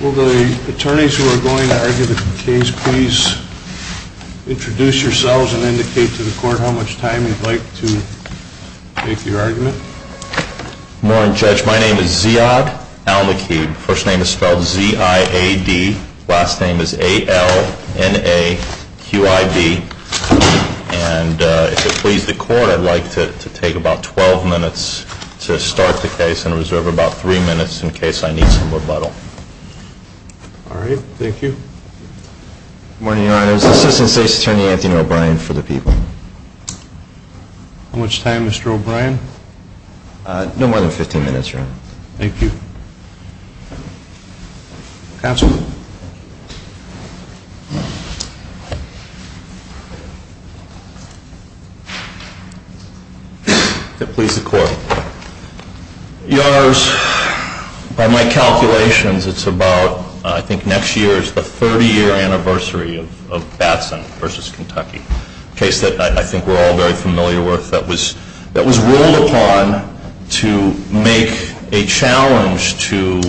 Will the attorneys who are going to argue the case please introduce yourselves and indicate to the court how much time you'd like to make your argument? Good morning Judge. My name is Ziad Al-Makid. First name is spelled Z-I-A-D. Last name is A-L-N-A-Q-I-D. And if it pleases the court I'd like to take about 12 minutes to start the case and reserve about 3 minutes in case I need some rebuttal. Alright. Thank you. Good morning Your Honor. This is Assistant State's Attorney Anthony O'Brien for the people. How much time Mr. O'Brien? No more than 15 minutes Your Honor. Thank you. Counsel. If it pleases the court. Your Honors, by my calculations it's about I think next year's the 30 year anniversary of Batson v. Kentucky. A case that I think we're all very familiar with that was ruled upon to make a challenge to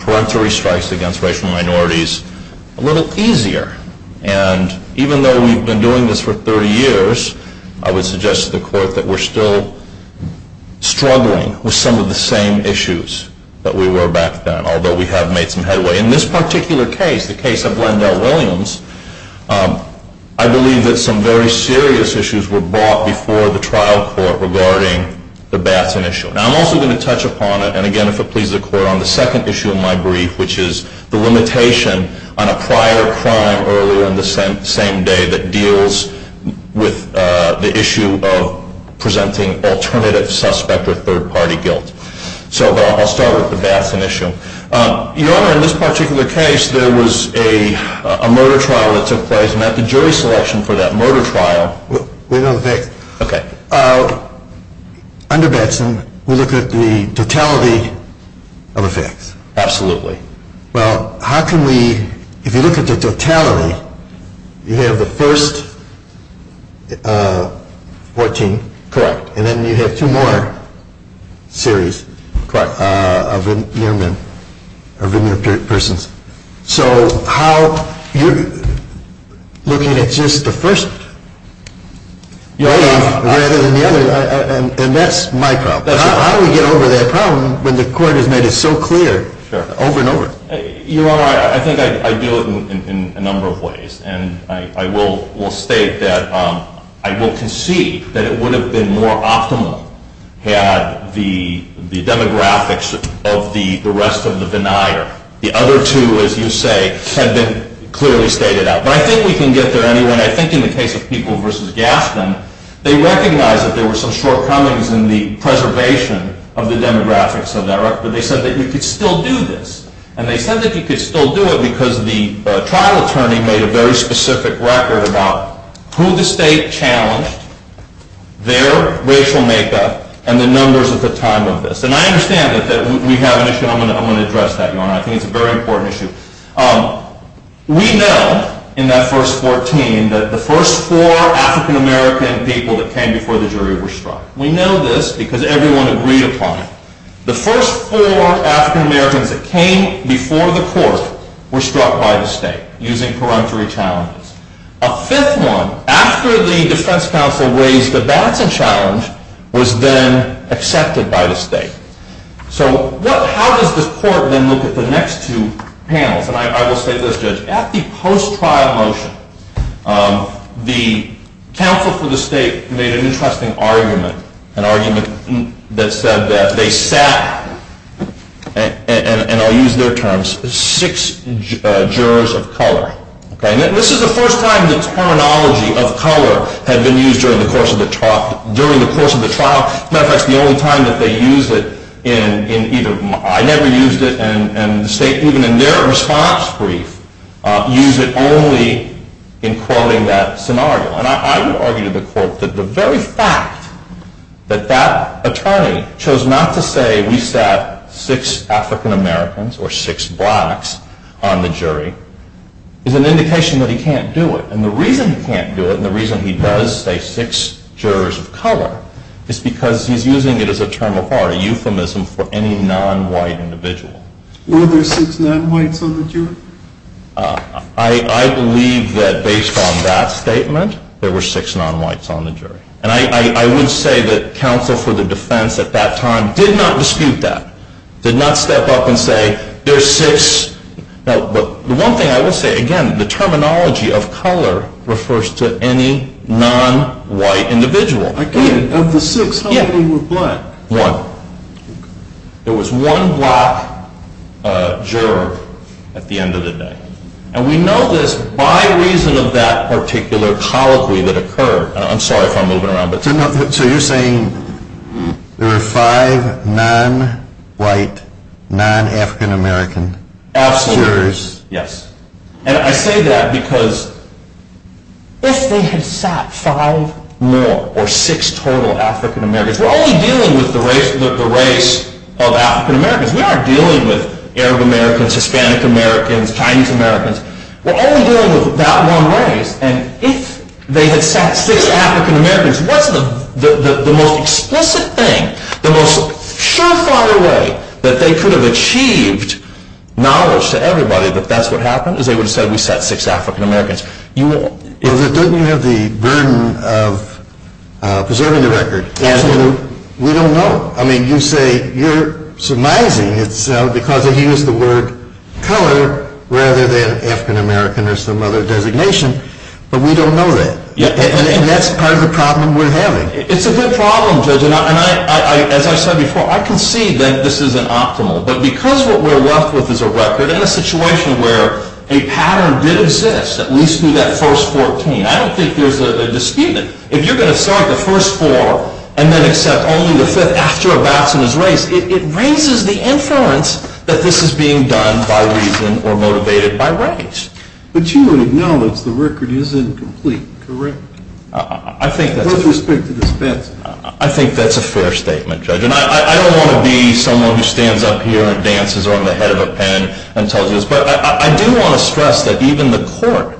peremptory strikes against racial minorities a little easier. And even though we've been doing this for 30 years, I would suggest to the court that we're still struggling with some of the same issues that we were back then, although we have made some headway. In this particular case, the case of Lendell Williams, I believe that some very serious issues were brought before the trial court regarding the Batson issue. Now I'm also going to touch upon it, and again if it pleases the court, on the second issue of my brief, which is the limitation on a prior crime earlier in the same day that deals with the issue of presenting alternative suspect or third party guilt. So I'll start with the Batson issue. Your Honor, in this particular case there was a murder trial that took place and that the jury selection for that murder trial. We know the facts. Okay. Under Batson, we look at the totality of the facts. Absolutely. Well, how can we, if you look at the totality, you have the first 14. Correct. And then you have two more series. Correct. And then you have two more veneer men, or veneer persons. So how, you're looking at just the first, and that's my problem. How do we get over that problem when the court has made it so clear over and over? Your Honor, I think I do it in a number of ways. And I will state that I will concede that it would have been more optimal had the demographics of the rest of the veneer, the other two, as you say, had been clearly stated out. But I think we can get there anyway. And I think in the case of Peoples v. Gaston, they recognized that there were some shortcomings in the preservation of the demographics of that record. But they said that you could still do this. And they said that you could still do it because the trial attorney made a very specific record about who the state challenged, their racial makeup, and the numbers at the time of this. And I understand that we have an issue, and I'm going to address that, Your Honor. I think it's a very important issue. We know in that first 14 that the first four African American people that came before the jury were struck. We know this because everyone agreed upon it. The first four African Americans that came before the court were struck by the state using peremptory challenges. A fifth one, after the defense counsel raised the Batson challenge, was then accepted by the state. So how does the court then look at the next two panels? And I will say this, Judge. At the post-trial motion, the counsel for the state made an interesting argument, an argument that said that they sat, and I'll use their terms, six jurors of color. This is the first time the terminology of color had been used during the course of the trial. As a matter of fact, it's the only time that they used it in either, I never used it, and the state, even in their response brief, used it only in quoting that scenario. And I would argue to the court that the very fact that that attorney chose not to say we sat six African Americans or six blacks on the jury is an indication that he can't do it. And the reason he can't do it and the reason he does say six jurors of color is because he's using it as a term of art, a euphemism for any non-white individual. Were there six non-whites on the jury? I believe that based on that statement, there were six non-whites on the jury. And I would say that counsel for the defense at that time did not dispute that, did not step up and say there's six. The one thing I will say, again, the terminology of color refers to any non-white individual. Of the six, how many were black? One. There was one black juror at the end of the day. And we know this by reason of that particular colloquy that occurred. I'm sorry if I'm moving around. So you're saying there were five non-white, non-African American jurors? Absolutely. Yes. And I say that because if they had sat five more or six total African Americans, we're only dealing with the race of African Americans. We aren't dealing with Arab Americans, Hispanic Americans, Chinese Americans. We're only dealing with that one race. And if they had sat six African Americans, what's the most explicit thing, the most surefire way that they could have achieved knowledge to everybody that that's what happened, is they would have said we sat six African Americans. Doesn't it have the burden of preserving the record? Absolutely. We don't know. I mean, you say you're surmising it's because they used the word color rather than African American or some other designation. But we don't know that. And that's part of the problem we're having. It's a good problem, Judge. And as I said before, I concede that this isn't optimal. But because what we're left with is a record and a situation where a pattern did exist, at least through that first 14, I don't think there's a dispute. I mean, if you're going to start the first four and then accept only the fifth after a bouts in his race, it raises the inference that this is being done by reason or motivated by race. But you would acknowledge the record is incomplete, correct? I think that's a fair statement, Judge. And I don't want to be someone who stands up here and dances on the head of a pen and tells you this. But I do want to stress that even the court,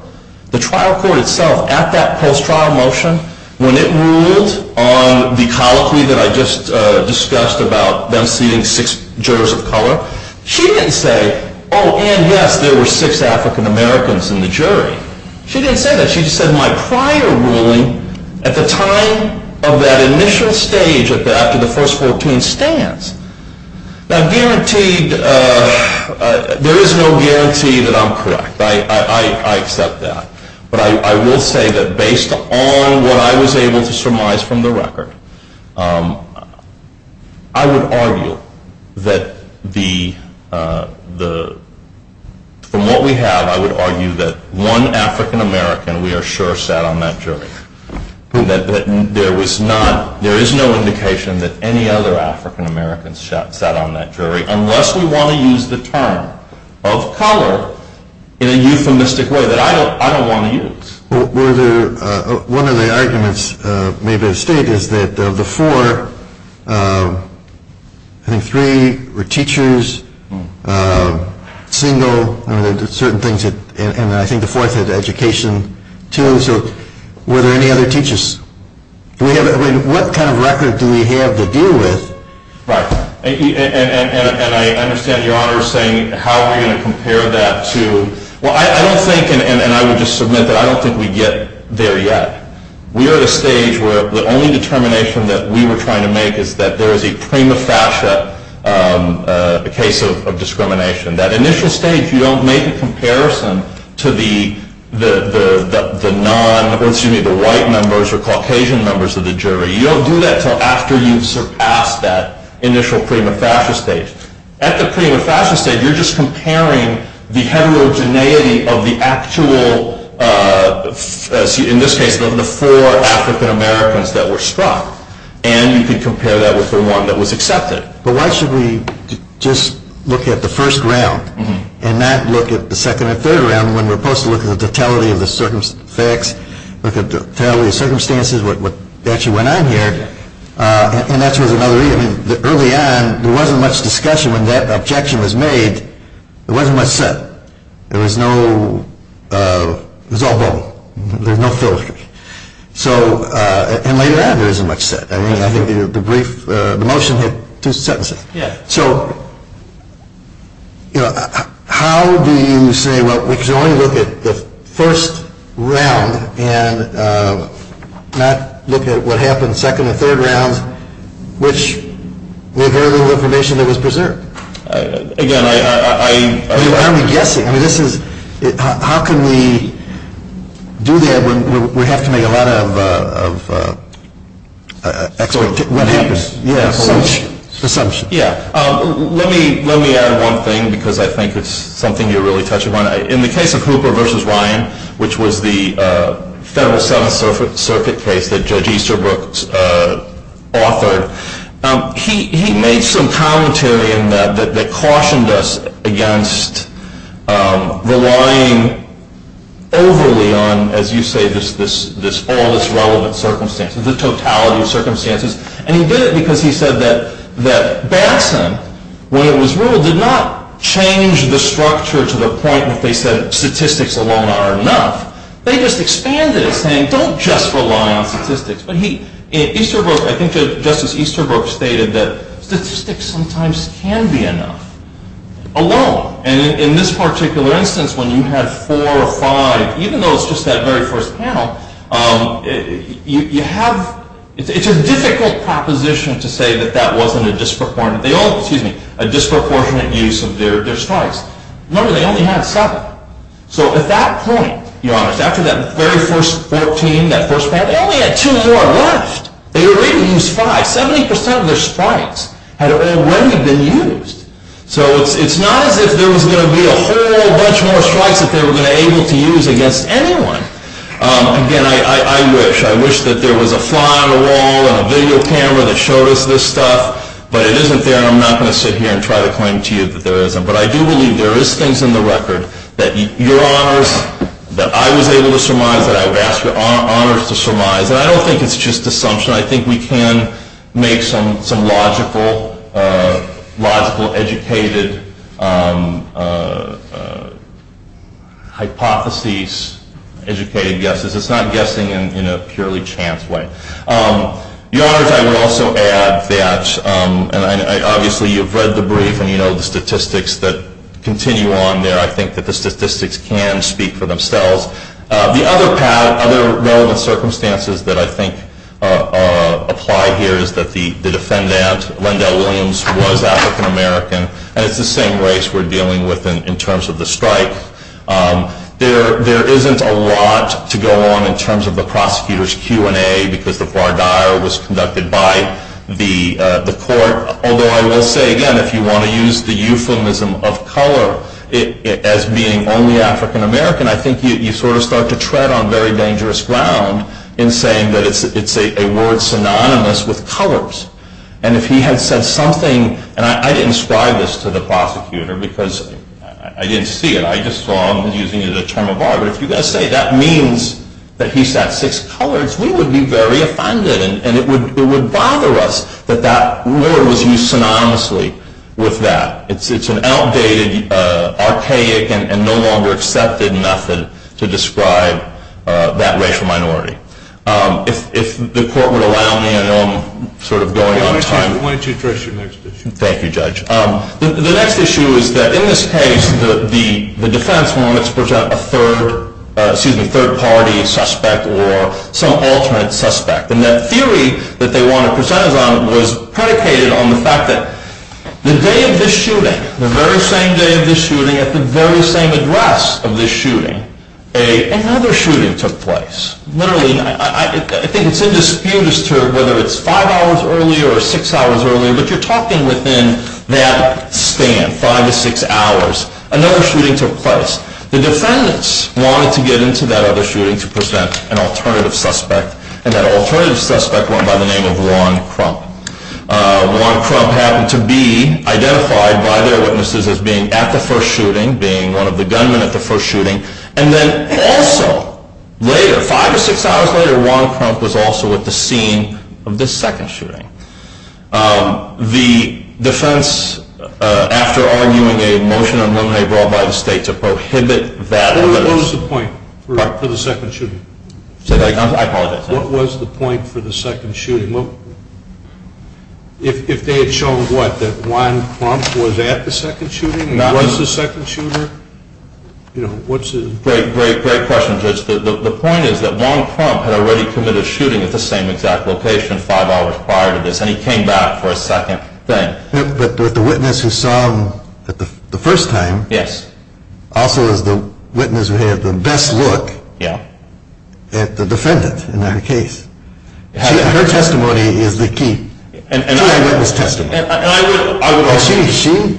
the trial court itself, at that post-trial motion, when it ruled on the colloquy that I just discussed about them seeing six jurors of color, she didn't say, oh, and yes, there were six African Americans in the jury. She didn't say that. She just said, my prior ruling at the time of that initial stage after the first 14 stands. Now, there is no guarantee that I'm correct. I accept that. But I will say that based on what I was able to surmise from the record, I would argue that from what we have, I would argue that one African American, we are sure, sat on that jury. There is no indication that any other African Americans sat on that jury unless we want to use the term of color in a euphemistic way that I don't want to use. One of the arguments made by the state is that of the four, I think three were teachers, single, and I think the fourth had education, too. So were there any other teachers? What kind of record do we have to deal with? Right. Thank you. And I understand Your Honor saying how are we going to compare that to – well, I don't think, and I would just submit that I don't think we get there yet. We are at a stage where the only determination that we were trying to make is that there is a prima facie case of discrimination. That initial stage, you don't make a comparison to the non – or excuse me, the white members or Caucasian members of the jury. You don't do that until after you have surpassed that initial prima facie stage. At the prima facie stage, you are just comparing the heterogeneity of the actual, in this case, of the four African Americans that were struck, and you can compare that with the one that was accepted. But why should we just look at the first round and not look at the second and third round when we are supposed to look at the totality of the facts, look at the totality of circumstances, what actually went on here. And that was another reason. Early on, there wasn't much discussion when that objection was made. There wasn't much said. There was no – it was all bubble. There was no filigree. And later on, there isn't much said. I think the brief – the motion had two sentences. Yeah. So, you know, how do you say, well, we can only look at the first round and not look at what happened in the second and third rounds, which we have very little information that was preserved. Again, I – I mean, what are we guessing? I mean, this is – how can we do that when we have to make a lot of expectations? Yeah. Let me add one thing because I think it's something you really touched upon. In the case of Hooper v. Ryan, which was the Federal Seventh Circuit case that Judge Easterbrook authored, he made some commentary in that that cautioned us against relying overly on, as you say, all this relevant circumstance, the totality of circumstances. And he did it because he said that Batson, when it was ruled, did not change the structure to the point that they said statistics alone are enough. They just expanded it, saying don't just rely on statistics. But he – Easterbrook – I think Justice Easterbrook stated that statistics sometimes can be enough alone. And in this particular instance, when you have four or five, even though it's just that very first panel, you have – it's a difficult proposition to say that that wasn't a disproportionate – they all – excuse me – a disproportionate use of their strikes. Remember, they only had seven. So at that point, Your Honor, it's after that very first 14, that first panel, they only had two more left. They already used five. Seventy percent of their strikes had already been used. So it's not as if there was going to be a whole bunch more strikes that they were going to be able to use against anyone. Again, I wish. I wish that there was a fly on the wall and a video camera that showed us this stuff. But it isn't there, and I'm not going to sit here and try to claim to you that there isn't. But I do believe there is things in the record that Your Honors, that I was able to surmise, that I would ask Your Honors to surmise. And I don't think it's just assumption. I think we can make some logical, educated hypotheses, educated guesses. It's not guessing in a purely chance way. Your Honors, I would also add that – and obviously you've read the brief and you know the statistics that continue on there. I think that the statistics can speak for themselves. The other relevant circumstances that I think apply here is that the defendant, Lendell Williams, was African American. And it's the same race we're dealing with in terms of the strike. There isn't a lot to go on in terms of the prosecutor's Q&A because the voir dire was conducted by the court. Although I will say, again, if you want to use the euphemism of color as being only African American, I think you sort of start to tread on very dangerous ground in saying that it's a word synonymous with colors. And if he had said something – and I didn't ascribe this to the prosecutor because I didn't see it. I just saw him using it as a term of art. But if you're going to say that means that he's got six colors, we would be very offended. And it would bother us that that word was used synonymously with that. It's an outdated, archaic, and no longer accepted method to describe that racial minority. If the court would allow me, I know I'm sort of going on time. Why don't you address your next issue? Thank you, Judge. The next issue is that in this case, the defense wanted to present a third party suspect or some alternate suspect. And that theory that they wanted to present was predicated on the fact that the day of this shooting, the very same day of this shooting, at the very same address of this shooting, another shooting took place. Literally, I think it's in dispute as to whether it's five hours earlier or six hours earlier, but you're talking within that span, five to six hours. Another shooting took place. The defendants wanted to get into that other shooting to present an alternative suspect. And that alternative suspect went by the name of Ron Crump. Ron Crump happened to be identified by their witnesses as being at the first shooting, being one of the gunmen at the first shooting. And then also later, five or six hours later, Ron Crump was also at the scene of this second shooting. The defense, after arguing a motion of no-nay brought by the state to prohibit that evidence. What was the point for the second shooting? I apologize. What was the point for the second shooting? If they had shown, what, that Ron Crump was at the second shooting and was the second shooter? Great, great, great question, Judge. The point is that Ron Crump had already committed a shooting at the same exact location five hours prior to this, and he came back for a second thing. But the witness who saw him the first time also is the witness who had the best look at the defendant in that case. Her testimony is the key. She had witness testimony. She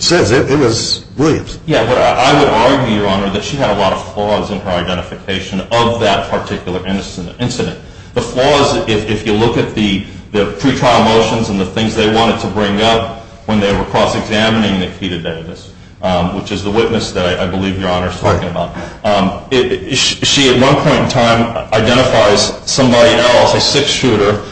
says it was Williams. Yeah, but I would argue, Your Honor, that she had a lot of flaws in her identification of that particular incident. The flaws, if you look at the pretrial motions and the things they wanted to bring up when they were cross-examining Nikita Davis, which is the witness that I believe Your Honor is talking about, she at one point in time identifies somebody else, a sixth shooter,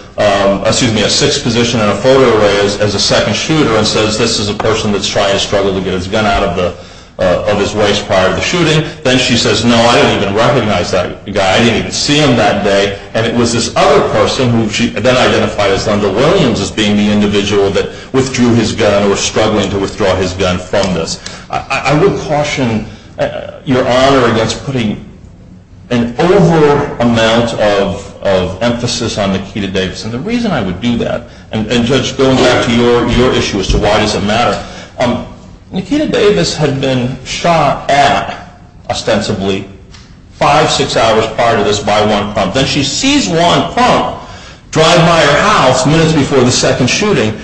excuse me, a sixth position in a photo array as a second shooter and says, this is a person that's trying to struggle to get his gun out of his waist prior to the shooting. Then she says, no, I don't even recognize that guy. I didn't even see him that day. And it was this other person who she then identified as Thunder Williams as being the individual that withdrew his gun or was struggling to withdraw his gun from this. I would caution Your Honor against putting an over amount of emphasis on Nikita Davis. And the reason I would do that, and Judge, going back to your issue as to why does it matter, Nikita Davis had been shot at, ostensibly, five, six hours prior to this by Juan Crump. Then she sees Juan Crump drive by her house minutes before the second shooting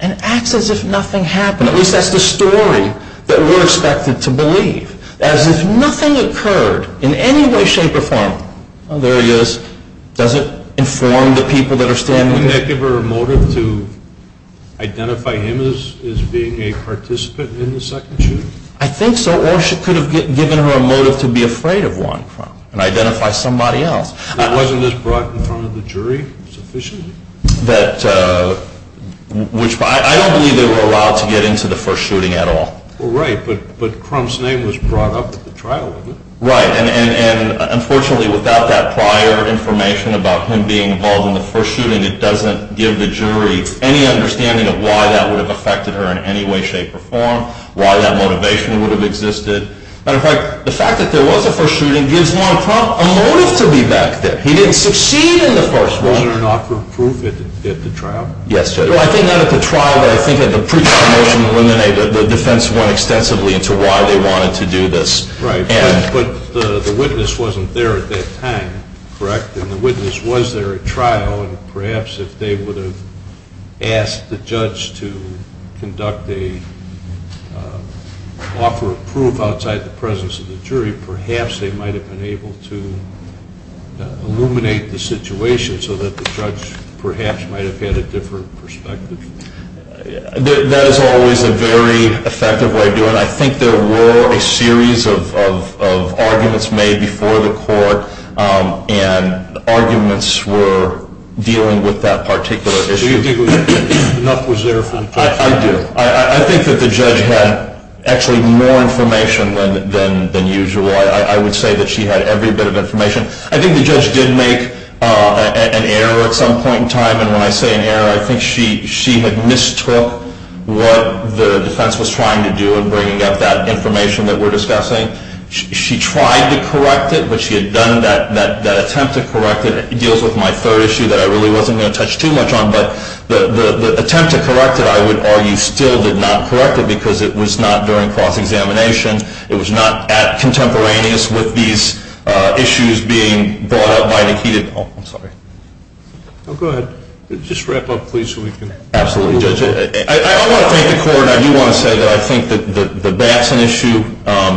and acts as if nothing happened. At least that's the story that we're expected to believe, as if nothing occurred in any way, shape, or form. There he is. Does it inform the people that are standing there? Wouldn't that give her a motive to identify him as being a participant in the second shooting? I think so. Or she could have given her a motive to be afraid of Juan Crump and identify somebody else. Now, wasn't this brought in front of the jury sufficiently? I don't believe they were allowed to get into the first shooting at all. Right. But Crump's name was brought up at the trial, wasn't it? Right. And, unfortunately, without that prior information about him being involved in the first shooting, it doesn't give the jury any understanding of why that would have affected her in any way, shape, or form, why that motivation would have existed. Matter of fact, the fact that there was a first shooting gives Juan Crump a motive to be back there. He didn't succeed in the first one. Wasn't there an offer of proof at the trial? Yes, Judge. I think not at the trial, but I think at the pre-trial motion when the defense went extensively into why they wanted to do this. Right. But the witness wasn't there at that time, correct? And the witness was there at trial, and perhaps if they would have asked the judge to conduct an offer of proof outside the presence of the jury, perhaps they might have been able to illuminate the situation so that the judge perhaps might have had a different perspective. That is always a very effective way of doing it. I think there were a series of arguments made before the court, and arguments were dealing with that particular issue. Do you think enough was there for the court to do? I do. I think that the judge had actually more information than usual. I would say that she had every bit of information. When I say an error, I think she had mistook what the defense was trying to do in bringing up that information that we're discussing. She tried to correct it, but she had done that attempt to correct it. It deals with my third issue that I really wasn't going to touch too much on, but the attempt to correct it, I would argue, still did not correct it because it was not during cross-examination. It was not contemporaneous with these issues being brought up by the heated- Oh, I'm sorry. Go ahead. Just wrap up, please, so we can move on. Absolutely, Judge. I want to thank the court. I do want to say that I think that the Batson issue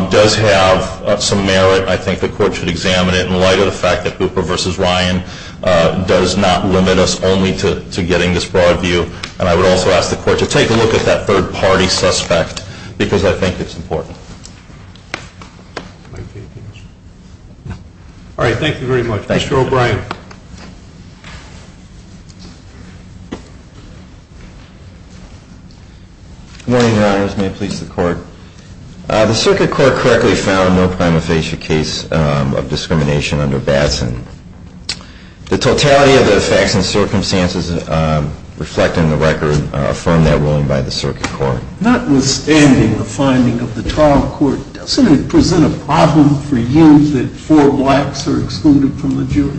does have some merit. I think the court should examine it in light of the fact that Hooper v. Ryan does not limit us only to getting this broad view, and I would also ask the court to take a look at that third-party suspect because I think it's important. All right. Thank you very much. Mr. O'Brien. Good morning, Your Honors. May it please the court. The Circuit Court correctly found no prima facie case of discrimination under Batson. The totality of the facts and circumstances reflected in the record affirm that ruling by the Circuit Court. Notwithstanding the finding of the trial court, doesn't it present a problem for you that four blacks are excluded from the jury?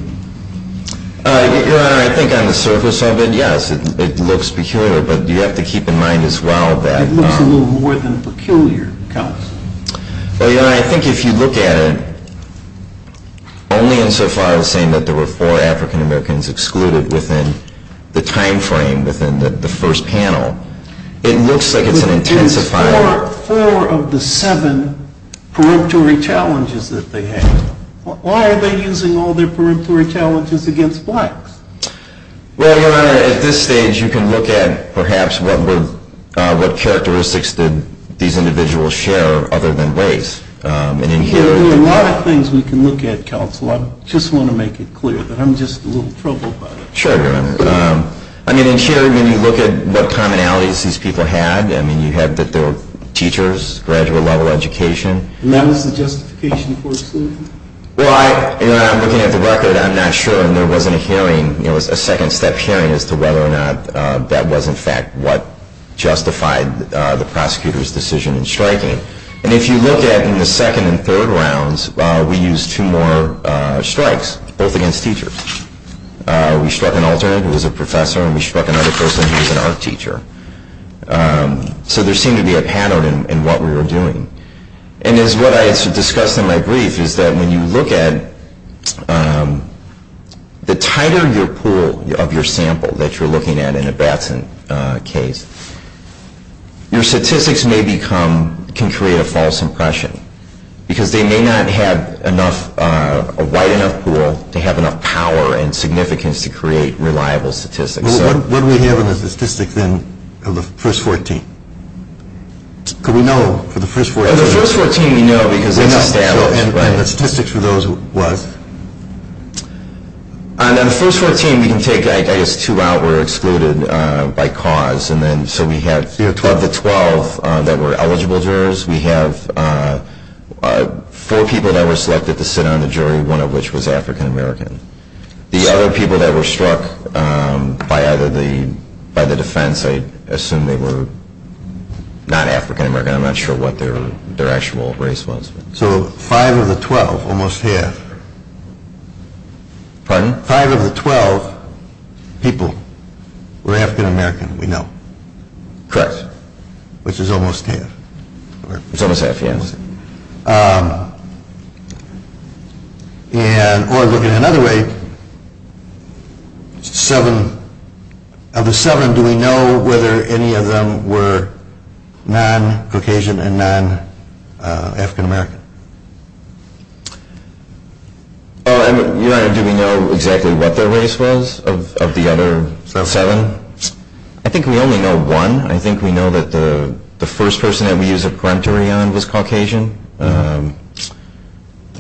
Your Honor, I think on the surface of it, yes, it looks peculiar, but you have to keep in mind as well that- It looks a little more than peculiar, counsel. Well, Your Honor, I think if you look at it, only insofar as saying that there were four African-Americans excluded within the time frame, within the first panel, it looks like it's an intensified- Four of the seven preemptory challenges that they had. Why are they using all their preemptory challenges against blacks? Well, Your Honor, at this stage, you can look at perhaps what characteristics did these individuals share other than race. There are a lot of things we can look at, counsel. I just want to make it clear that I'm just a little troubled by this. Sure, Your Honor. I mean, in here, when you look at what commonalities these people had, I mean, you had that they were teachers, graduate-level education. And that was the justification for exclusion? Well, Your Honor, I'm looking at the record. I'm not sure, and there wasn't a hearing. It was a second-step hearing as to whether or not that was, in fact, what justified the prosecutor's decision in striking. And if you look at it in the second and third rounds, we used two more strikes, both against teachers. We struck an alternate who was a professor, and we struck another person who was an art teacher. So there seemed to be a pattern in what we were doing. And as what I discussed in my brief is that when you look at the tighter your pool of your sample that you're looking at in a Batson case, your statistics may become, can create a false impression because they may not have a wide enough pool to have enough power and significance to create reliable statistics. What do we have in the statistics, then, of the first 14? Could we know for the first 14? For the first 14, we know because it's established. And the statistics for those was? On the first 14, we can take, I guess, two out were excluded by cause. And then so we have of the 12 that were eligible jurors, we have four people that were selected to sit on the jury, one of which was African-American. The other people that were struck by the defense, I assume they were not African-American. I'm not sure what their actual race was. So five of the 12, almost half. Pardon? Five of the 12 people were African-American, we know. Correct. Which is almost half. It's almost half, yes. And, or looking another way, seven, of the seven, do we know whether any of them were non-Caucasian and non-African-American? Your Honor, do we know exactly what their race was of the other seven? I think we only know one. I think we know that the first person that we used a preemptory on was Caucasian.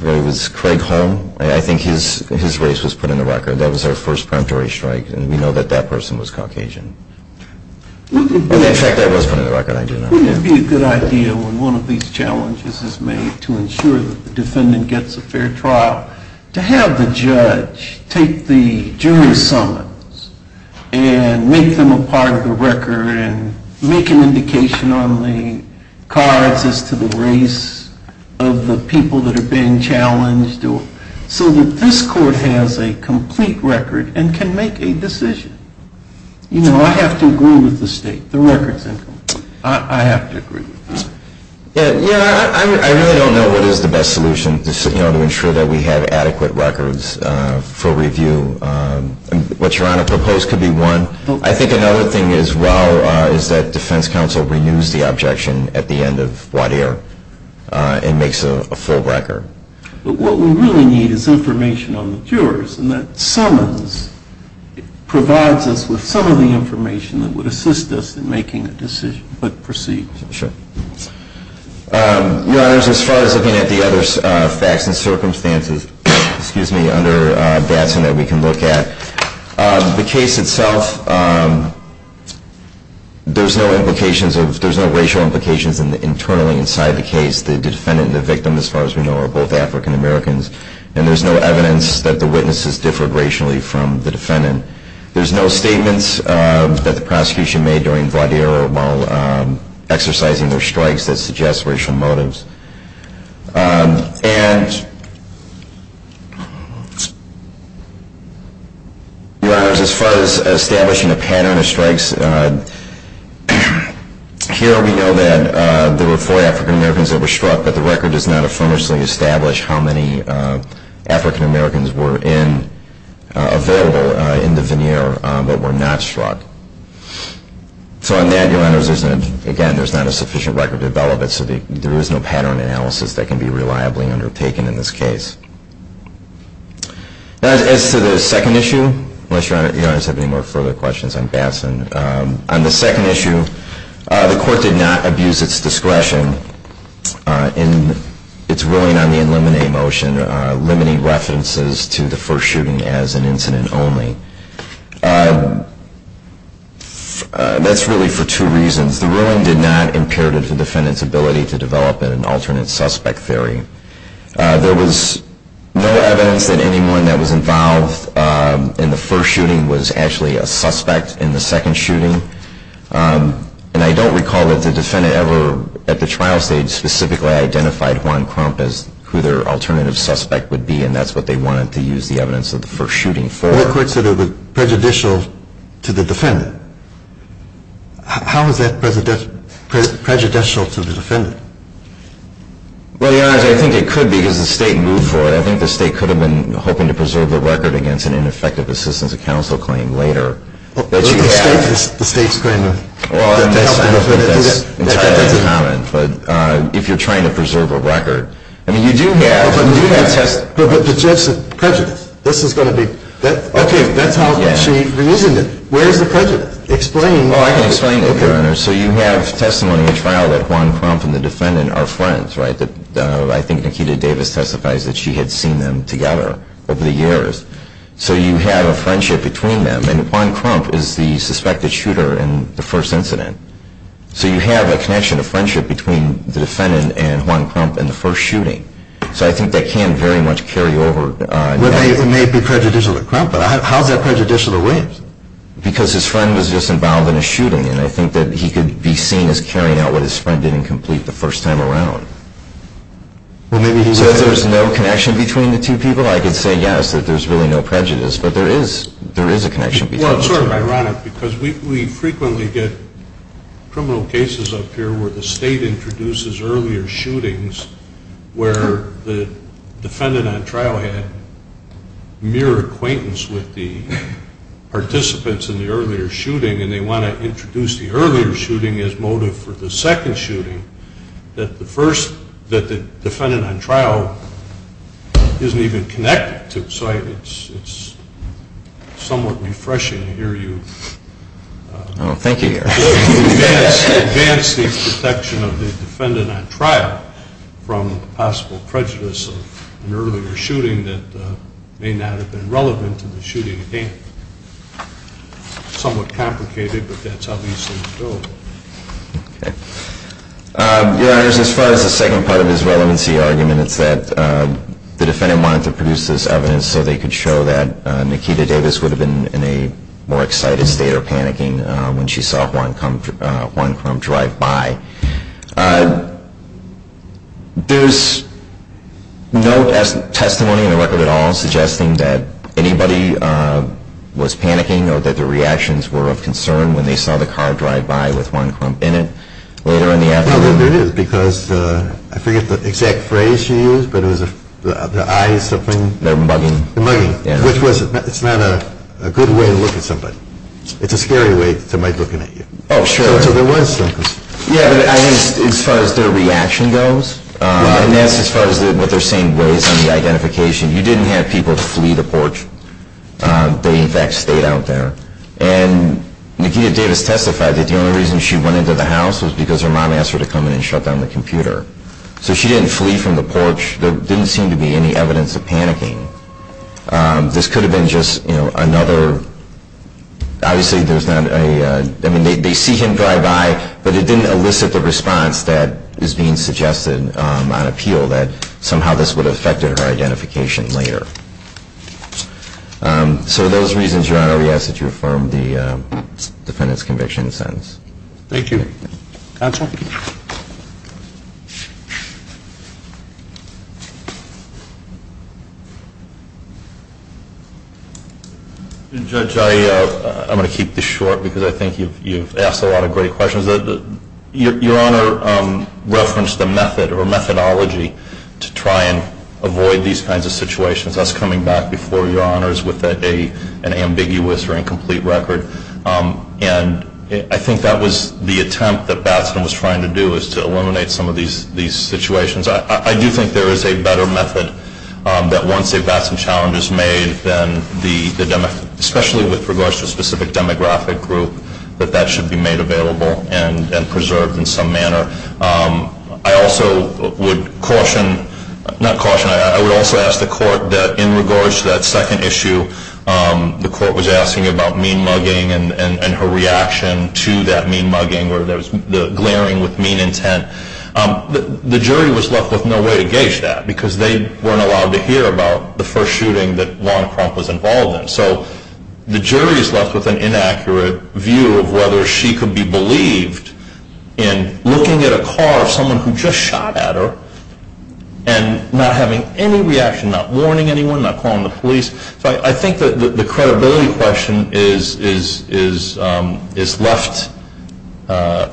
It was Craig Holm. I think his race was put in the record. That was our first preemptory strike, and we know that that person was Caucasian. In fact, that was put in the record. I do not know. Wouldn't it be a good idea when one of these challenges is made to ensure that the defendant gets a fair trial, to have the judge take the jury summons and make them a part of the record and make an indication on the cards as to the race of the people that are being challenged so that this court has a complete record and can make a decision? You know, I have to agree with the state. The record's incomplete. I have to agree. Yeah, I really don't know what is the best solution to ensure that we have adequate records for review. What Your Honor proposed could be one. I think another thing as well is that defense counsel renews the objection at the end of whatever and makes a full record. But what we really need is information on the jurors, and that summons provides us with some of the information that would assist us in making a decision. But proceed. Sure. Your Honors, as far as looking at the other facts and circumstances, excuse me, under Datsun that we can look at, the case itself, there's no racial implications internally inside the case. The defendant and the victim, as far as we know, are both African Americans, and there's no evidence that the witnesses differed racially from the defendant. There's no statements that the prosecution made during Valdero while exercising their strikes that suggest racial motives. And, Your Honors, as far as establishing a pattern of strikes, here we know that there were four African Americans that were struck, but the record does not affirmatively establish how many African Americans were available in the veneer but were not struck. So on that, Your Honors, again, there's not a sufficient record to develop it, so there is no pattern analysis that can be reliably undertaken in this case. As to the second issue, unless Your Honors have any more further questions on Datsun, on the second issue, the court did not abuse its discretion in its ruling on the eliminate motion, limiting references to the first shooting as an incident only. That's really for two reasons. The ruling did not imperative the defendant's ability to develop an alternate suspect theory. There was no evidence that anyone that was involved in the first shooting was actually a suspect in the second shooting. And I don't recall that the defendant ever, at the trial stage, specifically identified Juan Crump as who their alternative suspect would be, and that's what they wanted to use the evidence of the first shooting for. The court said it was prejudicial to the defendant. How is that prejudicial to the defendant? Well, Your Honors, I think it could be because the State moved for it. I think the State could have been hoping to preserve the record against an ineffective assistance of counsel claim later. The State's claim of help to the defendant. Well, I'm not saying that's entirely uncommon, but if you're trying to preserve a record. I mean, you do have... But the judge said prejudiced. This is going to be... Okay, that's how she reasoned it. Where is the prejudice? Explain. Well, I can explain it, Your Honors. So you have testimony at trial that Juan Crump and the defendant are friends, right? I think Nikita Davis testifies that she had seen them together over the years. So you have a friendship between them, and Juan Crump is the suspected shooter in the first incident. So you have a connection, a friendship, between the defendant and Juan Crump in the first shooting. So I think that can very much carry over. It may be prejudicial to Crump, but how is that prejudicial to Williams? Because his friend was just involved in a shooting, and I think that he could be seen as carrying out what his friend did incomplete the first time around. Well, maybe he was... So there's no connection between the two people? I could say yes, that there's really no prejudice. But there is a connection between the two. Well, it's sort of ironic because we frequently get criminal cases up here where the state introduces earlier shootings where the defendant on trial had mere acquaintance with the participants in the earlier shooting, and they want to introduce the earlier shooting as motive for the second shooting, that the defendant on trial isn't even connected to. So it's somewhat refreshing to hear you... ...protection of the defendant on trial from possible prejudice of an earlier shooting that may not have been relevant to the shooting again. Somewhat complicated, but that's how these things go. Your Honors, as far as the second part of his relevancy argument, it's that the defendant wanted to produce this evidence so they could show that Nikita Davis would have been in a more excited state or panicking when she saw Juan Crump drive by. There's no testimony in the record at all suggesting that anybody was panicking or that their reactions were of concern when they saw the car drive by with Juan Crump in it later in the afternoon. Well, there is, because I forget the exact phrase she used, but it was the eyes, something... The mugging. The mugging. Which was, it's not a good way to look at somebody. It's a scary way to look at you. Oh, sure. So there was... Yeah, but I think as far as their reaction goes, and as far as what they're saying weighs on the identification, you didn't have people flee the porch. They, in fact, stayed out there. And Nikita Davis testified that the only reason she went into the house was because her mom asked her to come in and shut down the computer. There didn't seem to be any evidence of panicking. This could have been just another... Obviously, there's not a... I mean, they see him drive by, but it didn't elicit the response that is being suggested on appeal that somehow this would have affected her identification later. So those reasons, Your Honor, we ask that you affirm the defendant's conviction and sentence. Thank you. Counsel? Judge, I'm going to keep this short because I think you've asked a lot of great questions. Your Honor referenced the method or methodology to try and avoid these kinds of situations, us coming back before Your Honors with an ambiguous or incomplete record. And I think that was the attempt that Batson was trying to do is to eliminate some of these situations. I do think there is a better method that once they've got some challenges made, especially with regards to a specific demographic group, that that should be made available and preserved in some manner. I also would caution... Not caution. I would also ask the court that in regards to that second issue, the court was asking about mean-mugging and her reaction to that mean-mugging or the glaring with mean intent. The jury was left with no way to gauge that because they weren't allowed to hear about the first shooting that Lana Crump was involved in. So the jury is left with an inaccurate view of whether she could be believed in looking at a car of someone who just shot at her and not having any reaction, not warning anyone, not calling the police. So I think that the credibility question is left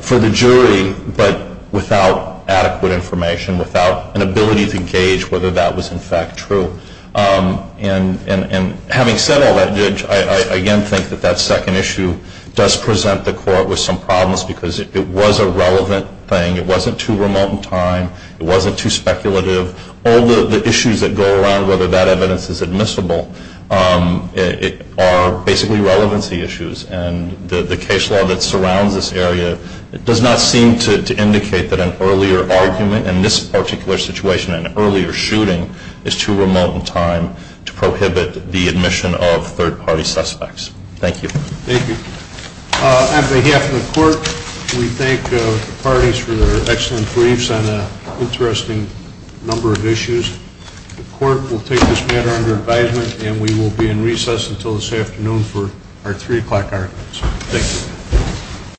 for the jury but without adequate information, without an ability to gauge whether that was in fact true. And having said all that, Judge, I again think that that second issue does present the court with some problems because it was a relevant thing. It wasn't too remote in time. It wasn't too speculative. All the issues that go around whether that evidence is admissible are basically relevancy issues. And the case law that surrounds this area does not seem to indicate that an earlier argument in this particular situation, an earlier shooting, is too remote in time to prohibit the admission of third-party suspects. Thank you. Thank you. On behalf of the court, we thank the parties for their excellent briefs on an interesting number of issues. The court will take this matter under advisement and we will be in recess until this afternoon for our 3 o'clock argument. Thank you.